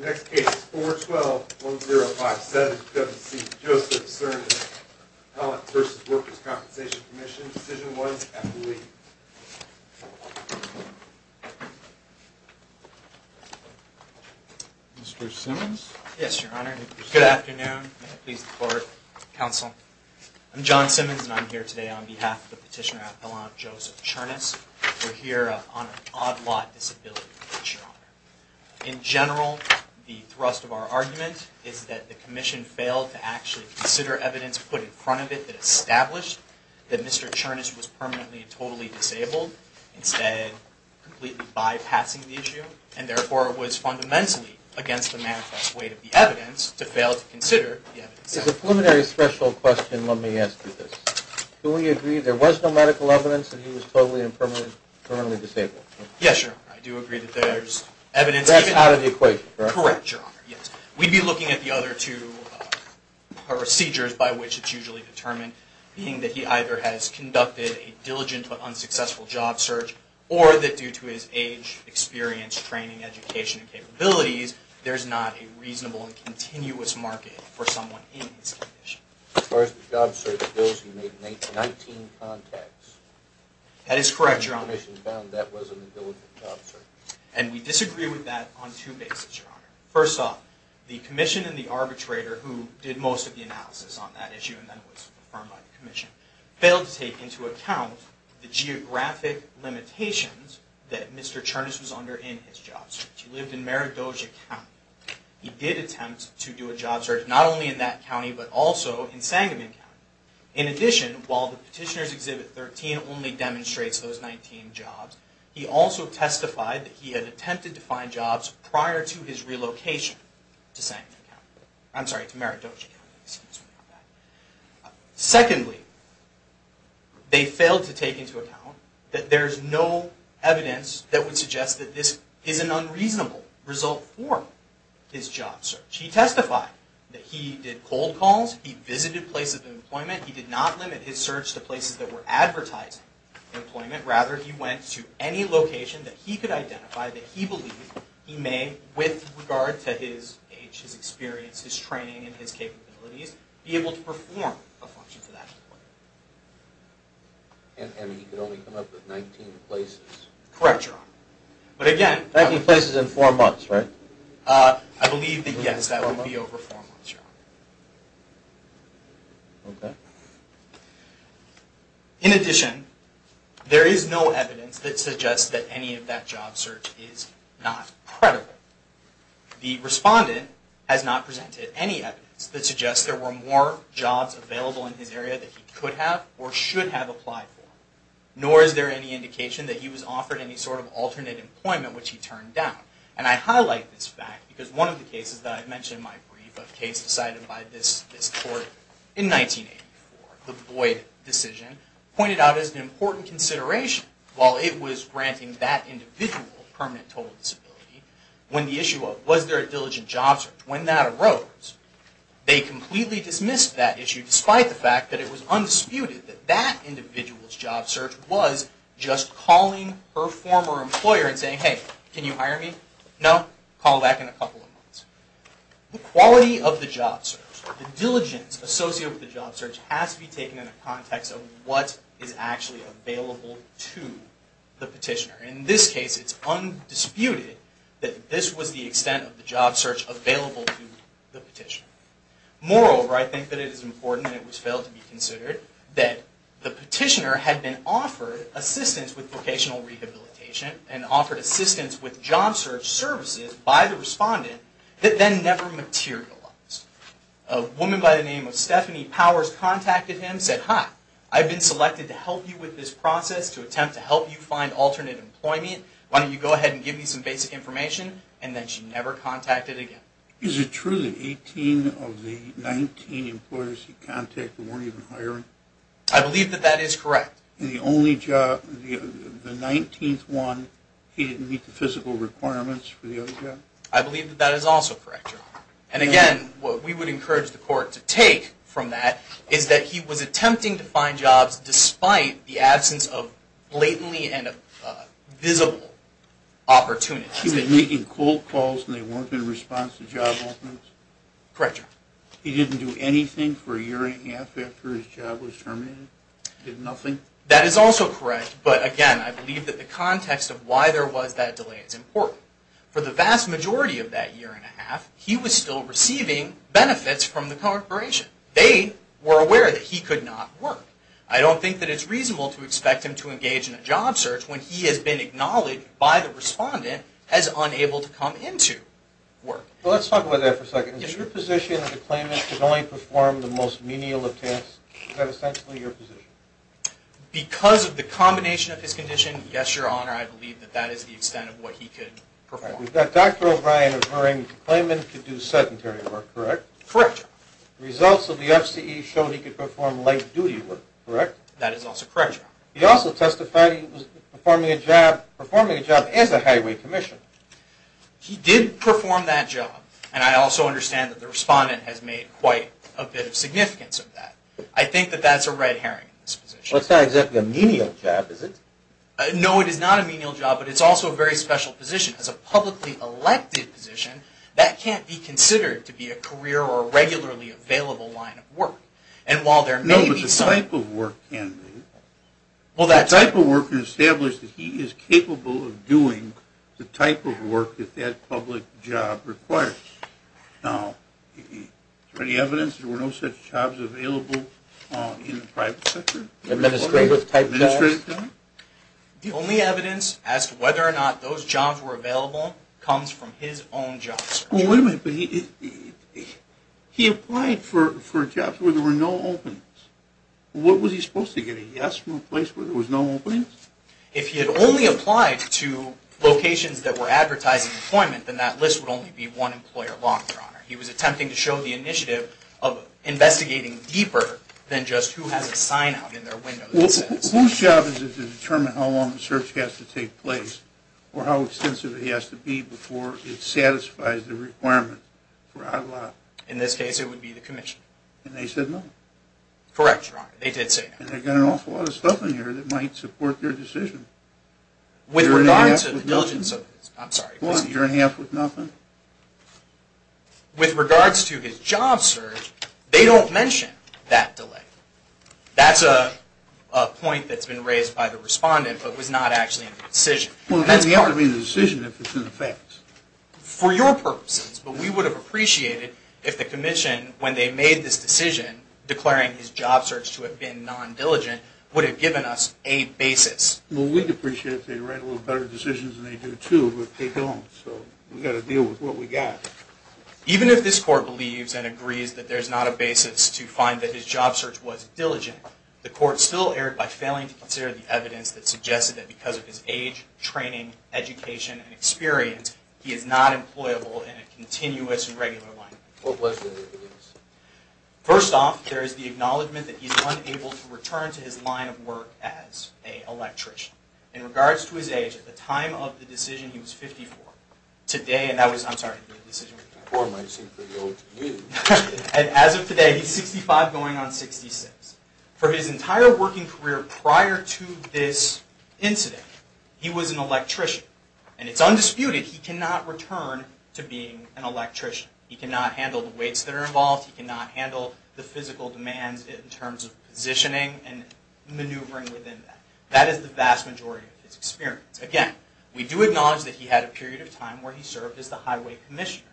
Your next case is 412-1057-WC Joseph Czernis, Appellant v. Workers' Compensation Comm'n. Decision was FLE. Mr. Simmons? Yes, Your Honor. Good afternoon. May it please the Court, Counsel. I'm John Simmons and I'm here today on behalf of the petitioner, Appellant Joseph Czernis. We're here on an odd lot disability case, Your Honor. In general, the thrust of our argument is that the Commission failed to actually consider evidence put in front of it that established that Mr. Czernis was permanently and totally disabled, instead completely bypassing the issue. And therefore, it was fundamentally against the manifest weight of the evidence to fail to consider the evidence. There's a preliminary special question let me ask you this. Do we agree there was no medical evidence that he was totally and permanently disabled? Yes, Your Honor. I do agree that there's evidence... That's out of the equation, correct? Correct, Your Honor. Yes. We'd be looking at the other two procedures by which it's usually determined, being that he either has conducted a diligent but unsuccessful job search, or that due to his age, experience, training, education, and capabilities, there's not a reasonable and continuous market for someone in this condition. As far as the job search goes, he made 19 contacts. That is correct, Your Honor. And the Commission found that was an indelible job search. And we disagree with that on two bases, Your Honor. First off, the Commission and the arbitrator who did most of the analysis on that issue and then was affirmed by the Commission, failed to take into account the geographic limitations that Mr. Czernis was under in his job search. He lived in Maridoja County. He did attempt to do a job search, not only in that county, but also in Sangamon County. In addition, while the Petitioner's Exhibit 13 only demonstrates those 19 jobs, he also testified that he had attempted to find jobs prior to his relocation to Sangamon County. I'm sorry, to Maridoja County. Excuse me about that. Secondly, they failed to take into account that there's no evidence that would suggest that this is an unreasonable result for his job search. He testified that he did cold calls, he visited places of employment, he did not limit his search to places that were advertising employment. Rather, he went to any location that he could identify that he believed he may, with regard to his age, his experience, his training, and his capabilities, be able to perform a function to that extent. And he could only come up with 19 places? Correct, Your Honor. But again... 19 places in four months, right? I believe that, yes, that would be over four months, Your Honor. In addition, there is no evidence that suggests that any of that job search is not credible. The Respondent has not presented any evidence that suggests there were more jobs available in his area that he could have or should have applied for. Nor is there any indication that he was offered any sort of alternate employment, which he turned down. And I highlight this fact because one of the cases that I mentioned in my brief, a case decided by this Court in 1984, the Boyd decision, pointed out as an important consideration, while it was granting that individual permanent total disability, when the issue of, was there a diligent job search? When that arose, they completely dismissed that issue, despite the fact that it was undisputed that that individual's job search was just calling her former employer and saying, hey, can you hire me? No? Call back in a couple of months. The quality of the job search, the diligence associated with the job search, has to be taken in a context of what is actually available to the petitioner. In this case, it's undisputed that this was the extent of the job search available to the petitioner. Moreover, I think that it is important, and it was failed to be considered, that the petitioner had been offered assistance with vocational rehabilitation and offered assistance with job search services by the respondent, that then never materialized. A woman by the name of Stephanie Powers contacted him and said, hi, I've been selected to help you with this process, to attempt to help you find alternate employment. Why don't you go ahead and give me some basic information? And then she never contacted him again. Is it true that 18 of the 19 employers he contacted weren't even hiring? I believe that that is correct. And the only job, the 19th one, he didn't meet the physical requirements for the other job? I believe that that is also correct. And again, what we would encourage the court to take from that is that he was attempting to find jobs despite the absence of blatantly and visible opportunities. He was making cold calls and they weren't in response to job openings? Correct. He didn't do anything for a year and a half after his job was terminated? Did nothing? That is also correct. But again, I believe that the context of why there was that delay is important. For the vast majority of that year and a half, he was still receiving benefits from the corporation. They were aware that he could not work. I don't think that it's reasonable to expect him to engage in a job search when he has been acknowledged by the respondent as unable to come into work. Let's talk about that for a second. Is your position that the claimant could only perform the most menial of tasks? Is that essentially your position? Because of the combination of his condition, yes, Your Honor, I believe that that is the extent of what he could perform. We've got Dr. O'Brien referring to the claimant could do sedentary work, correct? Correct, Your Honor. The results of the FCE showed he could perform late-duty work, correct? That is also correct, Your Honor. He also testified he was performing a job as a highway commissioner. He did perform that job, and I also understand that the respondent has made quite a bit of significance of that. I think that that's a red herring in this position. Well, it's not exactly a menial job, is it? No, it is not a menial job, but it's also a very special position. As a publicly elected position, that can't be considered to be a career or a regularly available line of work. No, but the type of work can be. The type of work can establish that he is capable of doing the type of work that that public job requires. Now, is there any evidence there were no such jobs available in the private sector? Administrative type jobs? The only evidence as to whether or not those jobs were available comes from his own jobs. Well, wait a minute. He applied for jobs where there were no openings. What was he supposed to get? A yes from a place where there was no openings? If he had only applied to locations that were advertising employment, then that list would only be one employer long, Your Honor. He was attempting to show the initiative of investigating deeper than just who has a sign out in their window. Whose job is it to determine how long the search has to take place or how extensive it has to be before it satisfies the requirement? In this case, it would be the commission. And they said no? Correct, Your Honor. They did say no. And they've got an awful lot of stuff in here that might support their decision. With regards to the diligence of this. I'm sorry. What, you're in half with nothing? With regards to his job search, they don't mention that delay. That's a point that's been raised by the respondent but was not actually in the decision. Well, that's going to be in the decision if it's in the facts. For your purposes. But we would have appreciated if the commission, when they made this decision, declaring his job search to have been non-diligent, would have given us a basis. Well, we'd appreciate it if they'd write a little better decisions than they do, too. But they don't. So we've got to deal with what we've got. Even if this court believes and agrees that there's not a basis to find that his job search was diligent, the court still erred by failing to consider the evidence that suggested that because of his age, training, education, and experience, he is not employable in a continuous and regular line of work. What was the evidence? First off, there is the acknowledgment that he's unable to return to his line of work as an electrician. In regards to his age, at the time of the decision, he was 54. Today, and that was, I'm sorry, the decision. The poor might seem pretty old to you. As of today, he's 65 going on 66. For his entire working career prior to this incident, he was an electrician. And it's undisputed he cannot return to being an electrician. He cannot handle the weights that are involved. He cannot handle the physical demands in terms of positioning and maneuvering within that. That is the vast majority of his experience. Again, we do acknowledge that he had a period of time where he served as the highway commissioner.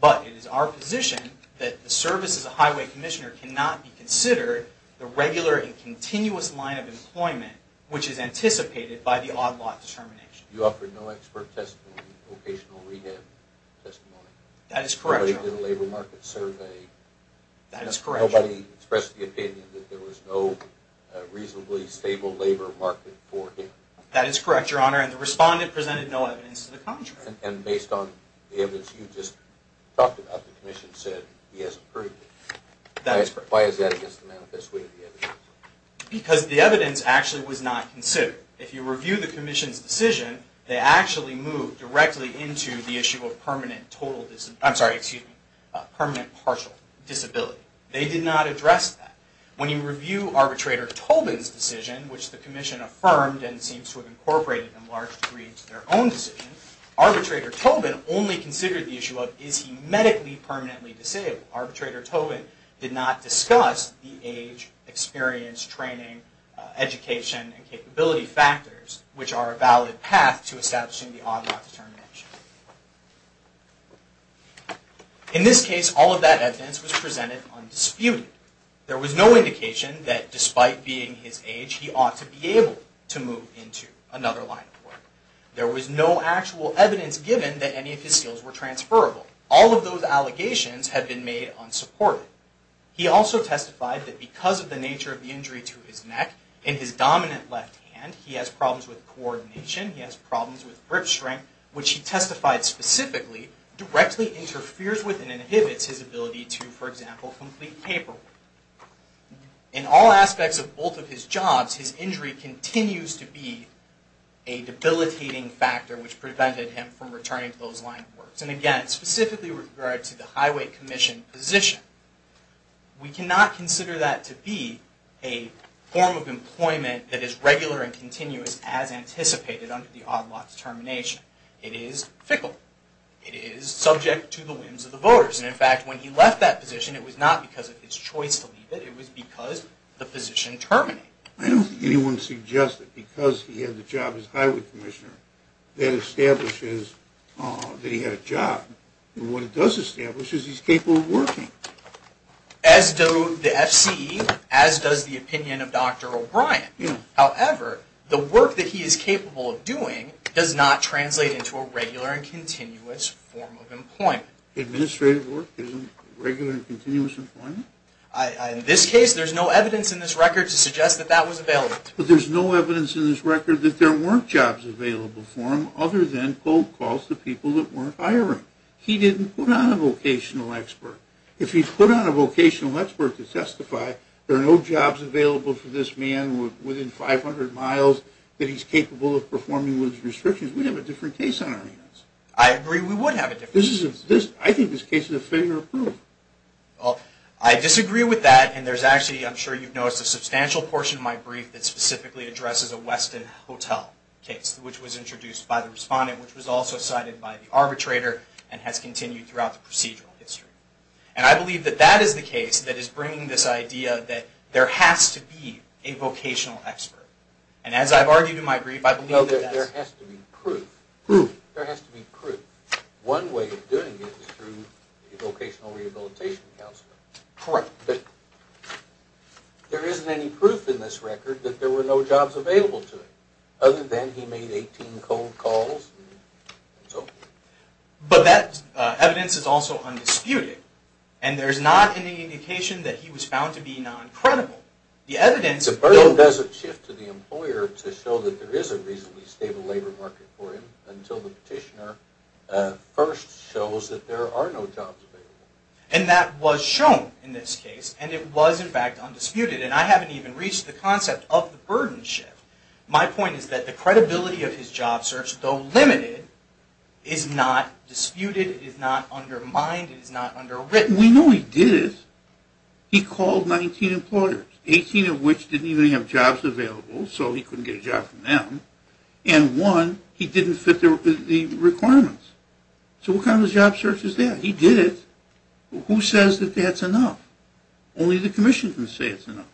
But it is our position that the service as a highway commissioner cannot be considered the regular and continuous line of employment which is anticipated by the odd-lot determination. You offered no expert testimony, vocational rehab testimony. That is correct, Your Honor. Nobody did a labor market survey. That is correct, Your Honor. Nobody expressed the opinion that there was no reasonably stable labor market for him. That is correct, Your Honor. And the respondent presented no evidence to the contrary. And based on the evidence you just talked about, the commission said he has approved it. That is correct. Why is that against the manifest way of the evidence? Because the evidence actually was not considered. If you review the commission's decision, they actually moved directly into the issue of permanent partial disability. They did not address that. When you review Arbitrator Tolben's decision, which the commission affirmed and seems to have incorporated in large degree into their own decision, Arbitrator Tolben only considered the issue of is he medically permanently disabled. Arbitrator Tolben did not discuss the age, experience, training, education, and capability factors which are a valid path to establishing the odd-lot determination. In this case, all of that evidence was presented undisputed. There was no indication that despite being his age, he ought to be able to move into another line of work. There was no actual evidence given that any of his skills were transferable. All of those allegations had been made unsupported. He also testified that because of the nature of the injury to his neck, in his dominant left hand he has problems with coordination, he has problems with grip strength, which he testified specifically directly interferes with and inhibits his ability to, for example, complete paperwork. In all aspects of both of his jobs, his injury continues to be a debilitating factor which prevented him from returning to those line of work. And again, specifically with regard to the highway commission position, we cannot consider that to be a form of employment that is regular and continuous as anticipated under the odd-lot determination. It is fickle. It is subject to the whims of the voters. And in fact, when he left that position, it was not because of his choice to leave it, it was because the position terminated. I don't think anyone would suggest that because he had the job as highway commissioner that establishes that he had a job. What it does establish is he's capable of working. However, the work that he is capable of doing does not translate into a regular and continuous form of employment. Administrative work isn't regular and continuous employment? In this case, there's no evidence in this record to suggest that that was available. But there's no evidence in this record that there weren't jobs available for him other than cold calls to people that weren't hiring. He didn't put on a vocational expert. If he put on a vocational expert to testify, there are no jobs available for this man within 500 miles that he's capable of performing with restrictions. We'd have a different case on our hands. I agree we would have a different case. I think this case is a failure of proof. I disagree with that, and there's actually, I'm sure you've noticed, a substantial portion of my brief that specifically addresses a Westin Hotel case, which was introduced by the respondent, which was also cited by the arbitrator, and has continued throughout the procedural history. And I believe that that is the case that is bringing this idea that there has to be a vocational expert. And as I've argued in my brief, I believe that that's... No, there has to be proof. Proof. There has to be proof. One way of doing it is through a vocational rehabilitation counselor. Correct. But there isn't any proof in this record that there were no jobs available to him other than he made 18 cold calls and so forth. But that evidence is also undisputed. And there's not any indication that he was found to be non-credible. The evidence... The burden doesn't shift to the employer to show that there is a reasonably stable labor market for him until the petitioner first shows that there are no jobs available. And that was shown in this case, and it was, in fact, undisputed. And I haven't even reached the concept of the burden shift. My point is that the credibility of his job search, though limited, is not disputed. It is not undermined. It is not underwritten. We know he did it. He called 19 employers, 18 of which didn't even have jobs available, so he couldn't get a job from them. And one, he didn't fit the requirements. So what kind of job search is that? He did it. Who says that that's enough? Only the commission can say it's enough.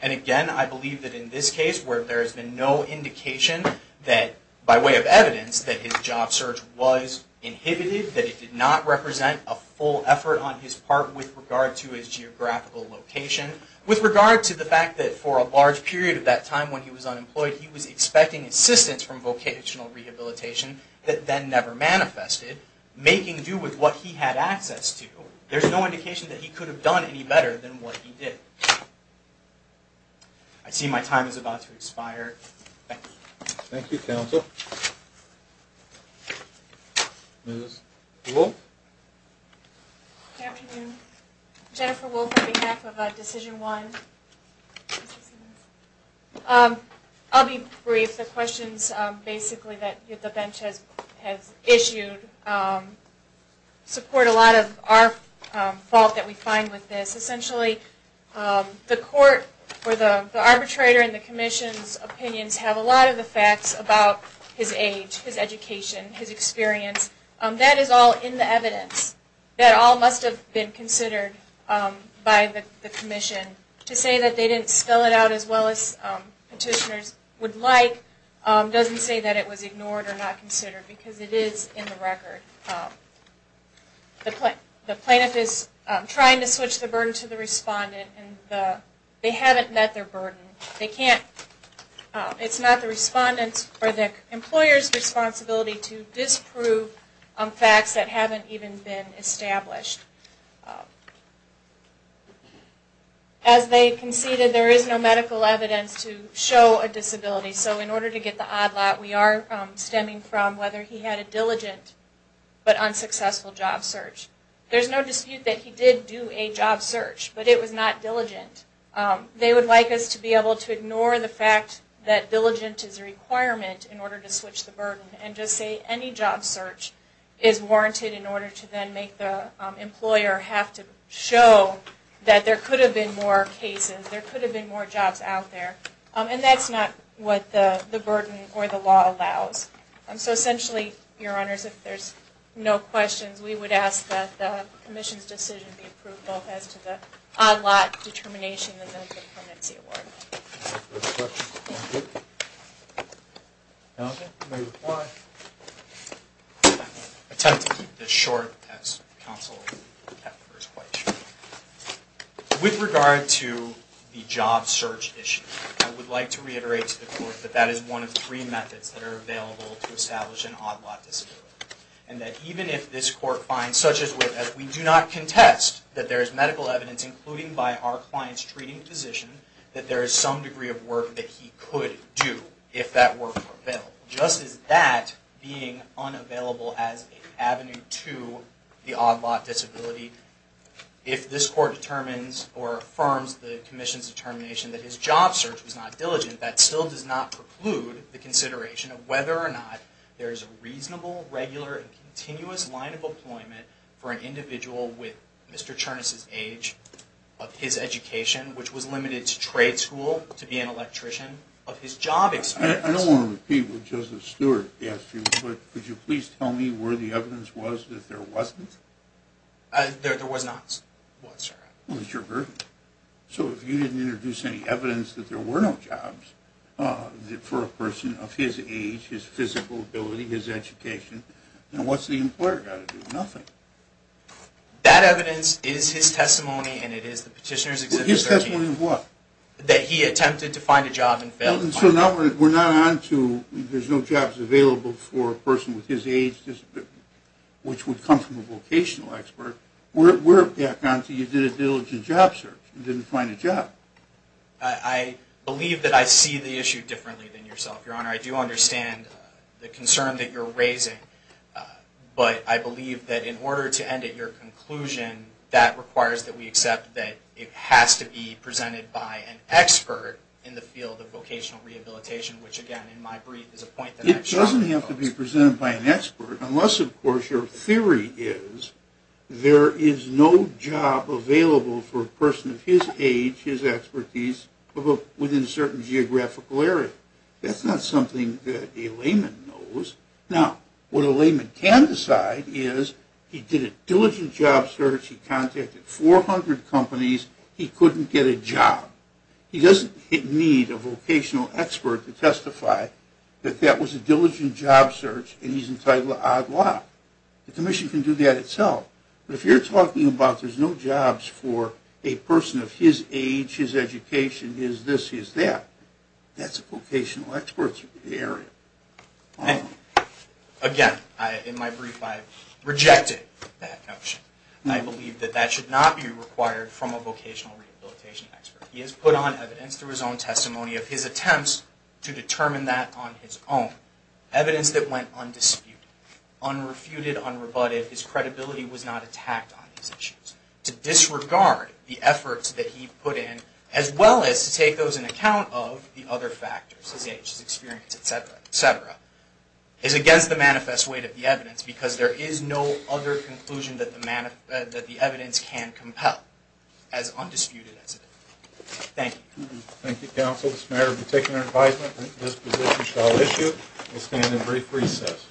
And again, I believe that in this case where there has been no indication that, by way of evidence, that his job search was inhibited, that it did not represent a full effort on his part with regard to his geographical location, with regard to the fact that for a large period of that time when he was unemployed, he was expecting assistance from vocational rehabilitation that then never manifested, making do with what he had access to. There's no indication that he could have done any better than what he did. I see my time is about to expire. Thank you. Thank you, counsel. Ms. Wolfe? Good afternoon. Jennifer Wolfe on behalf of Decision One. I'll be brief. The questions basically that the bench has issued support a lot of our fault that we find with this. Essentially, the court or the arbitrator and the commission's opinions have a lot of the facts about his age, his education, his experience. That is all in the evidence. That all must have been considered by the commission. To say that they didn't spell it out as well as petitioners would like doesn't say that it was ignored or not considered because it is in the record. The plaintiff is trying to switch the burden to the respondent. They haven't met their burden. It's not the respondent's or the employer's responsibility to disprove facts that haven't even been established. As they conceded, there is no medical evidence to show a disability. So in order to get the odd lot, we are stemming from whether he had a diligent but unsuccessful job search. There's no dispute that he did do a job search, but it was not diligent. They would like us to be able to ignore the fact that diligent is a requirement in order to switch the burden and just say any job search is warranted in order to then make the employer have to show that there could have been more cases, there could have been more jobs out there. And that's not what the burden or the law allows. So essentially, your honors, if there's no questions, we would ask that the commission's decision be approved both as to the odd lot determination and then to the permanency award. Any other questions? Okay, we may reply. I'll attempt to keep this short as counsel kept hers quite short. With regard to the job search issue, I would like to reiterate to the court that that is one of three methods that are available to establish an odd lot disability. And that even if this court finds, such as with, as we do not contest that there is medical evidence, including by our client's treating physician, that there is some degree of work that he could do if that work were available. Just as that being unavailable as an avenue to the odd lot disability, if this court determines or affirms the commission's determination that his job search was not diligent, that still does not preclude the consideration of whether or not there is a reasonable, regular, and continuous line of employment for an individual with Mr. Chernus's age, of his education, which was limited to trade school, to be an electrician, of his job experience. I don't want to repeat what Justice Stewart asked you, but could you please tell me where the evidence was that there wasn't? There was not. So if you didn't introduce any evidence that there were no jobs for a person of his age, his physical ability, his education, then what's the employer got to do? Nothing. That evidence is his testimony, and it is the Petitioner's Exhibit 13. His testimony of what? That he attempted to find a job and failed to find one. So we're not on to there's no jobs available for a person with his age disability, which would come from a vocational expert. We're back on to you did a diligent job search and didn't find a job. I believe that I see the issue differently than yourself, Your Honor. I do understand the concern that you're raising, but I believe that in order to end at your conclusion, that requires that we accept that it has to be presented by an expert in the field of vocational rehabilitation, which again, in my brief, is a point that I strongly oppose. It doesn't have to be presented by an expert, unless, of course, your theory is there is no job available for a person of his age, his expertise, within a certain geographical area. That's not something that a layman knows. Now, what a layman can decide is he did a diligent job search, he contacted 400 companies, he couldn't get a job. He doesn't need a vocational expert to testify that that was a diligent job search and he's entitled to odd lot. The Commission can do that itself. But if you're talking about there's no jobs for a person of his age, his education, his this, his that, that's a vocational expert's area. Again, in my brief, I rejected that notion. I believe that that should not be required from a vocational rehabilitation expert. He has put on evidence through his own testimony of his attempts to determine that on his own, evidence that went undisputed, unrefuted, unrebutted. His credibility was not attacked on these issues. To disregard the efforts that he put in, as well as to take those in account of the other factors, his age, his experience, et cetera, et cetera, is against the manifest weight of the evidence because there is no other conclusion that the evidence can compel, as undisputed as it is. Thank you. Thank you, Counsel. This matter has been taken under advisement. This position shall issue. We'll stand in brief recess.